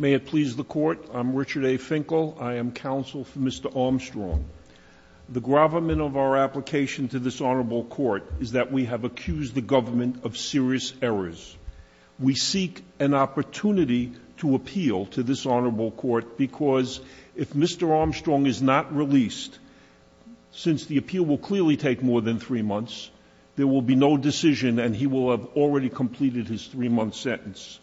May it please the court, I'm Richard A. Finkel, I am counsel for Mr. Armstrong. The gravamen of our application to this honorable court is that we have accused the government of serious errors. We seek an opportunity to appeal to this honorable court because if Mr. Armstrong is not released, since the appeal will clearly take more than three months, there will be no decision and he will have already completed his three-month sentence.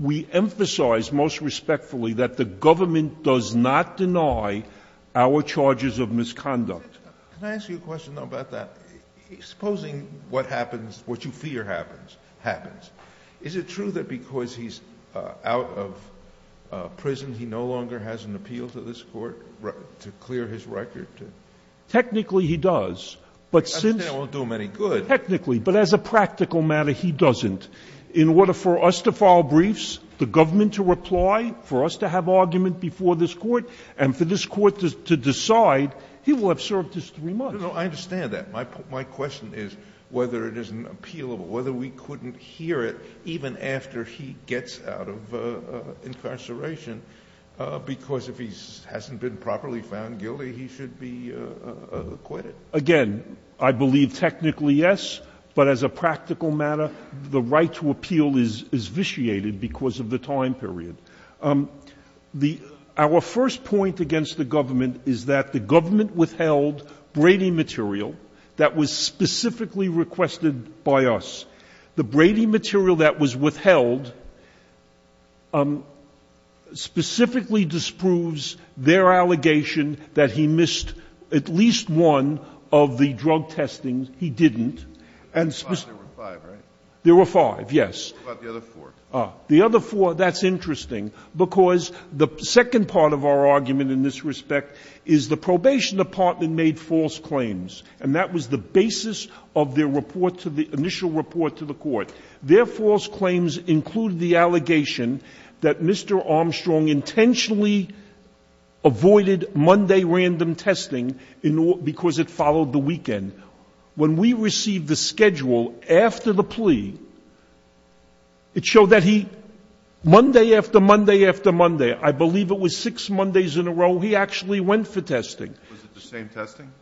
We emphasize most respectfully that the government does not deny our charges of misconduct. Can I ask you a question about that? Supposing what happens, what you fear happens, happens. Is it true that because he's out of prison, he no longer has an appeal to this court to clear his record? Technically he does. I understand it won't do him any good. Technically, but as a practical matter, he doesn't. In order for us to file briefs, the government to reply, for us to have argument before this court to decide, he will have served his three months. No, no, I understand that. My question is whether it isn't appealable, whether we couldn't hear it even after he gets out of incarceration because if he hasn't been properly found guilty, he should be acquitted. Again, I believe technically yes, but as a practical matter, the right to appeal is vitiated because of the time period. Our first point against the government is that the government withheld Brady material that was specifically requested by us. The Brady material that was withheld specifically disproves their allegation that he missed at least one of the drug testings. He didn't. And there were five, right? There were five, yes. What about the other four? The other four, that's interesting because the second part of our argument in this respect is the probation department made false claims, and that was the basis of their initial report to the court. Their false claims included the allegation that Mr. Armstrong intentionally avoided Monday random testing because it followed the weekend. When we received the schedule after the plea, it showed that he, Monday after Monday after Monday, I believe it was six Mondays in a row, he actually went for testing. Was it the same testing?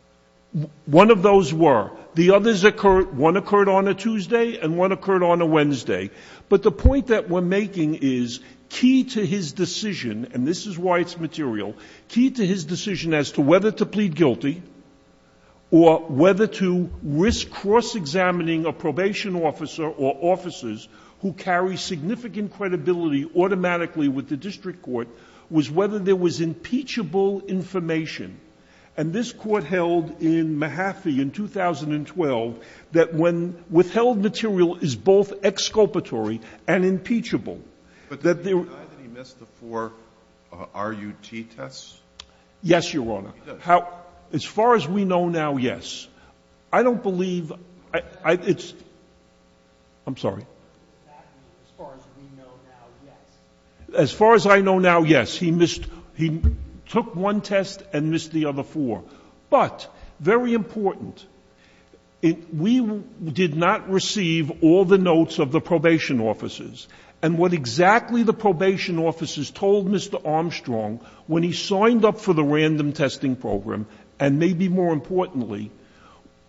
One of those were. The others occurred, one occurred on a Tuesday and one occurred on a Wednesday. But the point that we're making is key to his decision, and this is why it's material, key to his decision as to whether to plead guilty or whether to risk cross-examining a probation officer or officers who carry significant credibility automatically with the district court was whether there was impeachable information. And this court held in Mahaffey in 2012 that when withheld material is both exculpatory and impeachable. But did he deny that he missed the four RUT tests? Yes, Your Honor. As far as we know now, yes. I don't believe, it's, I'm sorry. As far as we know now, yes. As far as I know now, yes. He took one test and missed the other four. But very important, we did not receive all the notes of the probation officers. And what exactly the probation officers told Mr. Armstrong when he signed up for the random testing program, and maybe more importantly,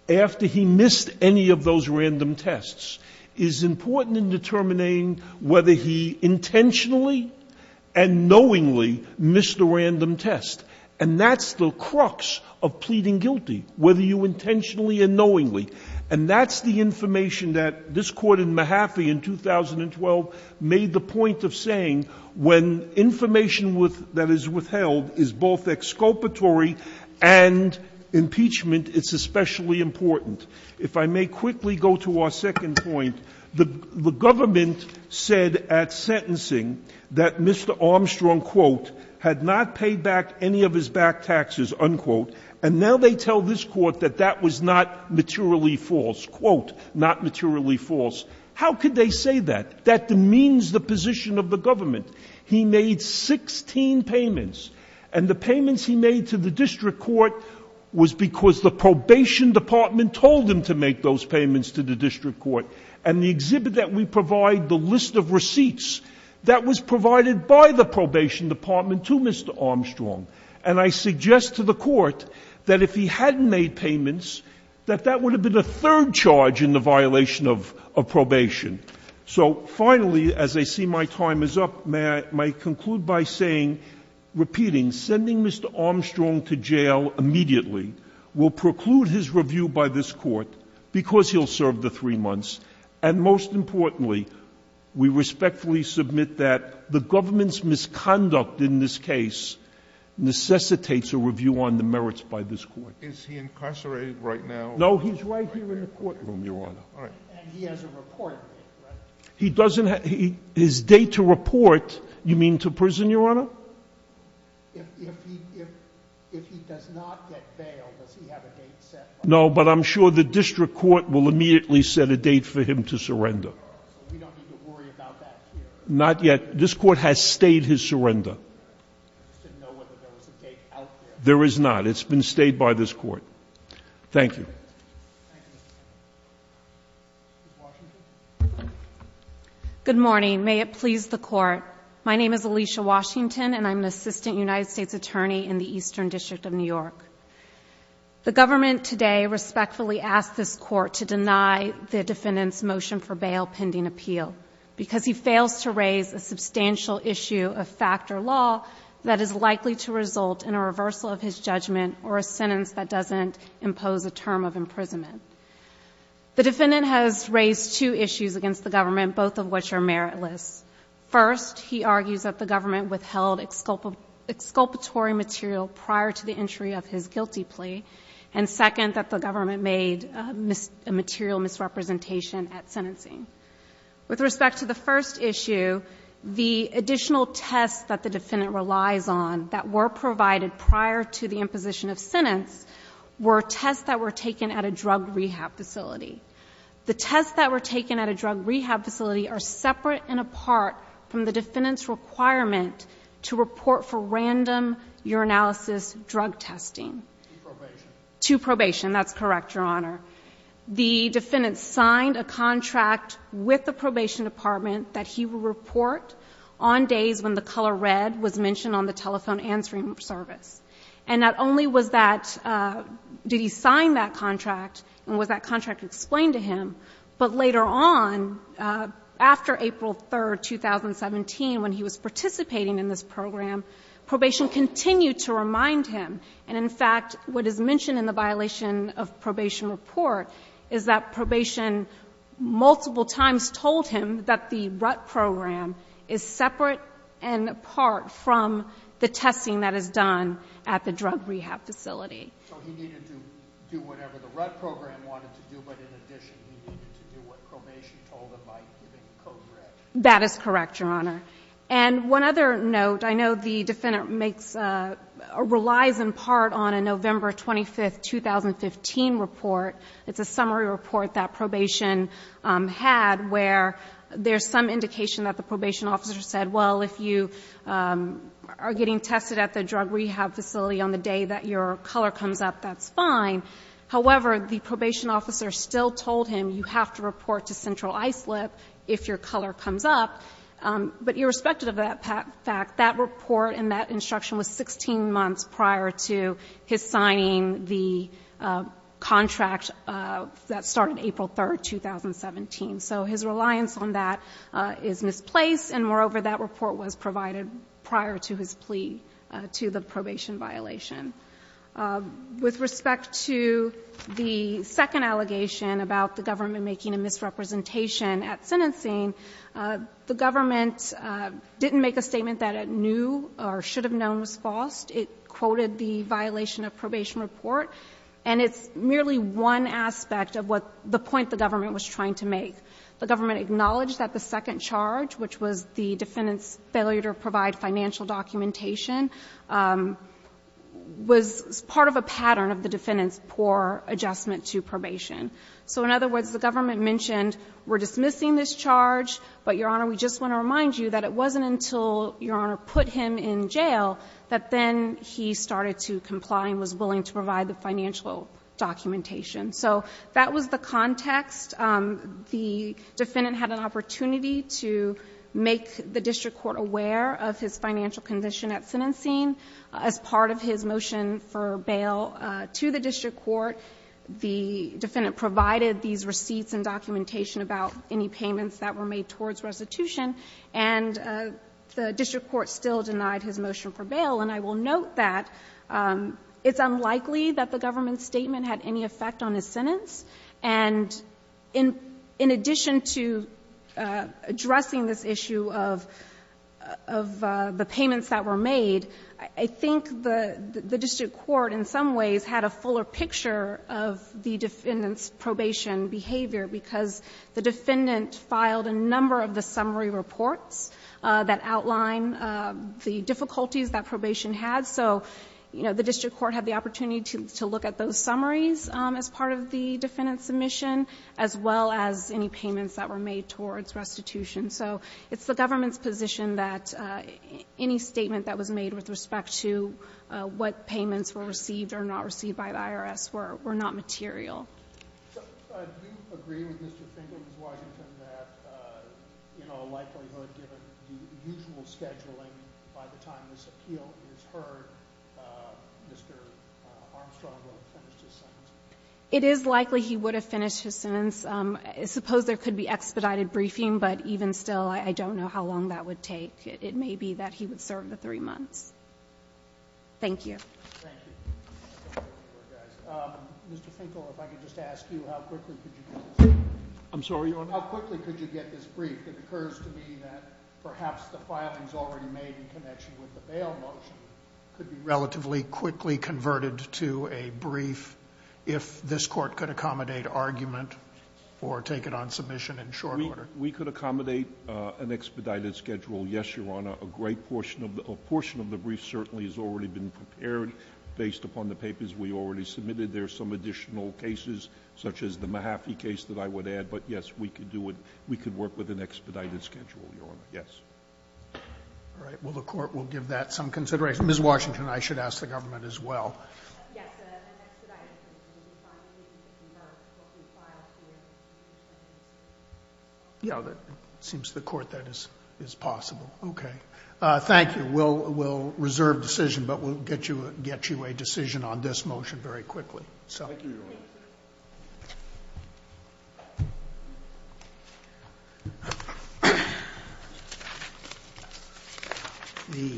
after he missed any of those random tests, is important in determining whether he intentionally and knowingly missed a random test. And that's the crux of pleading guilty, whether you intentionally or knowingly. And that's the information that this court in Mahaffey in 2012 made the point of saying, when information that is withheld is both exculpatory and impeachment, it's especially important. If I may quickly go to our second point, the government said at sentencing that Mr. Armstrong, quote, had not paid back any of his back taxes, unquote. And now they tell this court that that was not materially false, quote, not materially false. How could they say that? That demeans the position of the government. He made 16 payments, and the payments he made to the district court was because the probation department told him to make those payments to the district court. And the exhibit that we provide, the list of receipts, that was provided by the probation department to Mr. Armstrong. And I suggest to the court that if he hadn't made payments, that that would have been a third charge in the violation of probation. So finally, as I see my time is up, may I conclude by saying, repeating, sending Mr. Armstrong to jail immediately will preclude his review by this court because he'll serve the three months. And most importantly, we respectfully submit that the government's misconduct in this case necessitates a review on the merits by this court. Is he incarcerated right now? No, he's right here in the courtroom, Your Honor. All right. And he has a report to make, right? He doesn't have, his date to report, you mean to prison, Your Honor? If he does not get bail, does he have a date set? No, but I'm sure the district court will immediately set a date for him to surrender. We don't need to worry about that here. Not yet. This court has stayed his surrender. I just didn't know whether there was a date out there. There is not. It's been stayed by this court. Thank you. Good morning. May it please the court. My name is Alicia Washington and I'm an assistant United States attorney in the Eastern District of New York. The government today respectfully asked this court to deny the defendant's motion for bail pending appeal because he fails to raise a substantial issue of factor law that is likely to result in a reversal of his judgment or a sentence that doesn't impose a term of imprisonment. The defendant has raised two issues against the government, both of which are meritless. First, he argues that the government withheld exculpatory material prior to the entry of his With respect to the first issue, the additional tests that the defendant relies on that were provided prior to the imposition of sentence were tests that were taken at a drug rehab facility. The tests that were taken at a drug rehab facility are separate and apart from the defendant's requirement to report for random urinalysis drug testing. To probation. That's correct, Your Honor. The defendant signed a contract with the probation department that he will report on days when the color red was mentioned on the telephone answering service. And not only was that, uh, did he sign that contract and was that contract explained to him, but later on, uh, after April 3rd, 2017, when he was participating in this program, probation continued to remind him. And in fact, what is mentioned in the violation of probation report is that probation multiple times told him that the rut program is separate and apart from the testing that is done at the drug rehab facility. So he needed to do whatever the rut program wanted to do. But in addition, he needed to do what probation told him by giving code red. That is correct, Your Honor. And one other note. I know the defendant makes, uh, relies in part on a November 25th, 2015 report. It's a summary report that probation, um, had where there's some indication that the probation officer said, well, if you, um, are getting tested at the drug rehab facility on the day that your color comes up, that's fine. However, the probation officer still told him you have to report to central ISLIP if your color comes up. But irrespective of that fact, that report and that instruction was 16 months prior to his signing the contract that started April 3rd, 2017. So his reliance on that is misplaced. And moreover, that report was provided prior to his plea to the probation violation. With respect to the second allegation about the government making a misrepresentation at sentencing, uh, the government, uh, didn't make a statement that it knew or should have known was false. It quoted the violation of probation report. And it's merely one aspect of what the point the government was trying to make. The government acknowledged that the second charge, which was the defendant's failure to provide financial documentation, um, was part of a pattern of the defendant's poor adjustment to probation. So in other words, the government mentioned, we're dismissing this charge, but your honor, we just want to remind you that it wasn't until your honor put him in jail that then he started to comply and was willing to provide the financial documentation. So that was the context. Um, the defendant had an opportunity to make the district court aware of his financial condition at sentencing. As part of his motion for bail, uh, to the district court, the defendant provided these receipts and documentation about any payments that were made towards restitution. And, uh, the district court still denied his motion for bail. And I will note that, um, it's unlikely that the government's statement had any effect on his sentence. And in, in addition to, uh, addressing this issue of, of, uh, the payments that were made, I think the, the district court in some ways had a fuller picture of the defendant's probation behavior because the defendant filed a number of the summary reports, uh, that outline, uh, the difficulties that probation had. So, you know, the district court had the opportunity to, to look at those summaries, um, as part of the defendant's submission, as well as any payments that were made towards restitution. So it's the government's position that, uh, any statement that was made with respect to, uh, what payments were received or not received by the IRS were, were not material. So, uh, do you agree with Mr. Finkel, Ms. Washington, that, uh, you know, likelihood given the usual scheduling by the time this appeal is heard, uh, Mr. Armstrong would have finished his sentence? It is likely he would have finished his sentence. Um, suppose there could be expedited briefing, but even still, I don't know how long that would take. It may be that he would serve the three months. Thank you. Thank you. Um, Mr. Finkel, if I could just ask you, how quickly could you, I'm sorry, how quickly could you get this brief? It occurs to me that perhaps the filings already made in connection with the bail motion could be relatively quickly converted to a brief if this court could accommodate argument or take it on submission in short order. We could accommodate, uh, an expedited schedule. Yes, Your Honor. A great portion of the, a portion of the brief certainly has already been prepared based upon the papers we already submitted. There are some additional cases such as the Mahaffey case that I would add, but yes, we could do it. We could work with an expedited schedule, Your Honor. Yes. All right. Well, the court will give that some consideration. Ms. Washington, I should ask the government as well. Yes, an expedited schedule would be fine if we could convert what we filed here. Yeah, that seems to the court that is, is possible. Okay. Thank you. We'll, we'll reserve decision, but we'll get you, get you a decision on this motion very quickly, so. Thank you, Your Honor.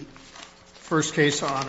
The first case on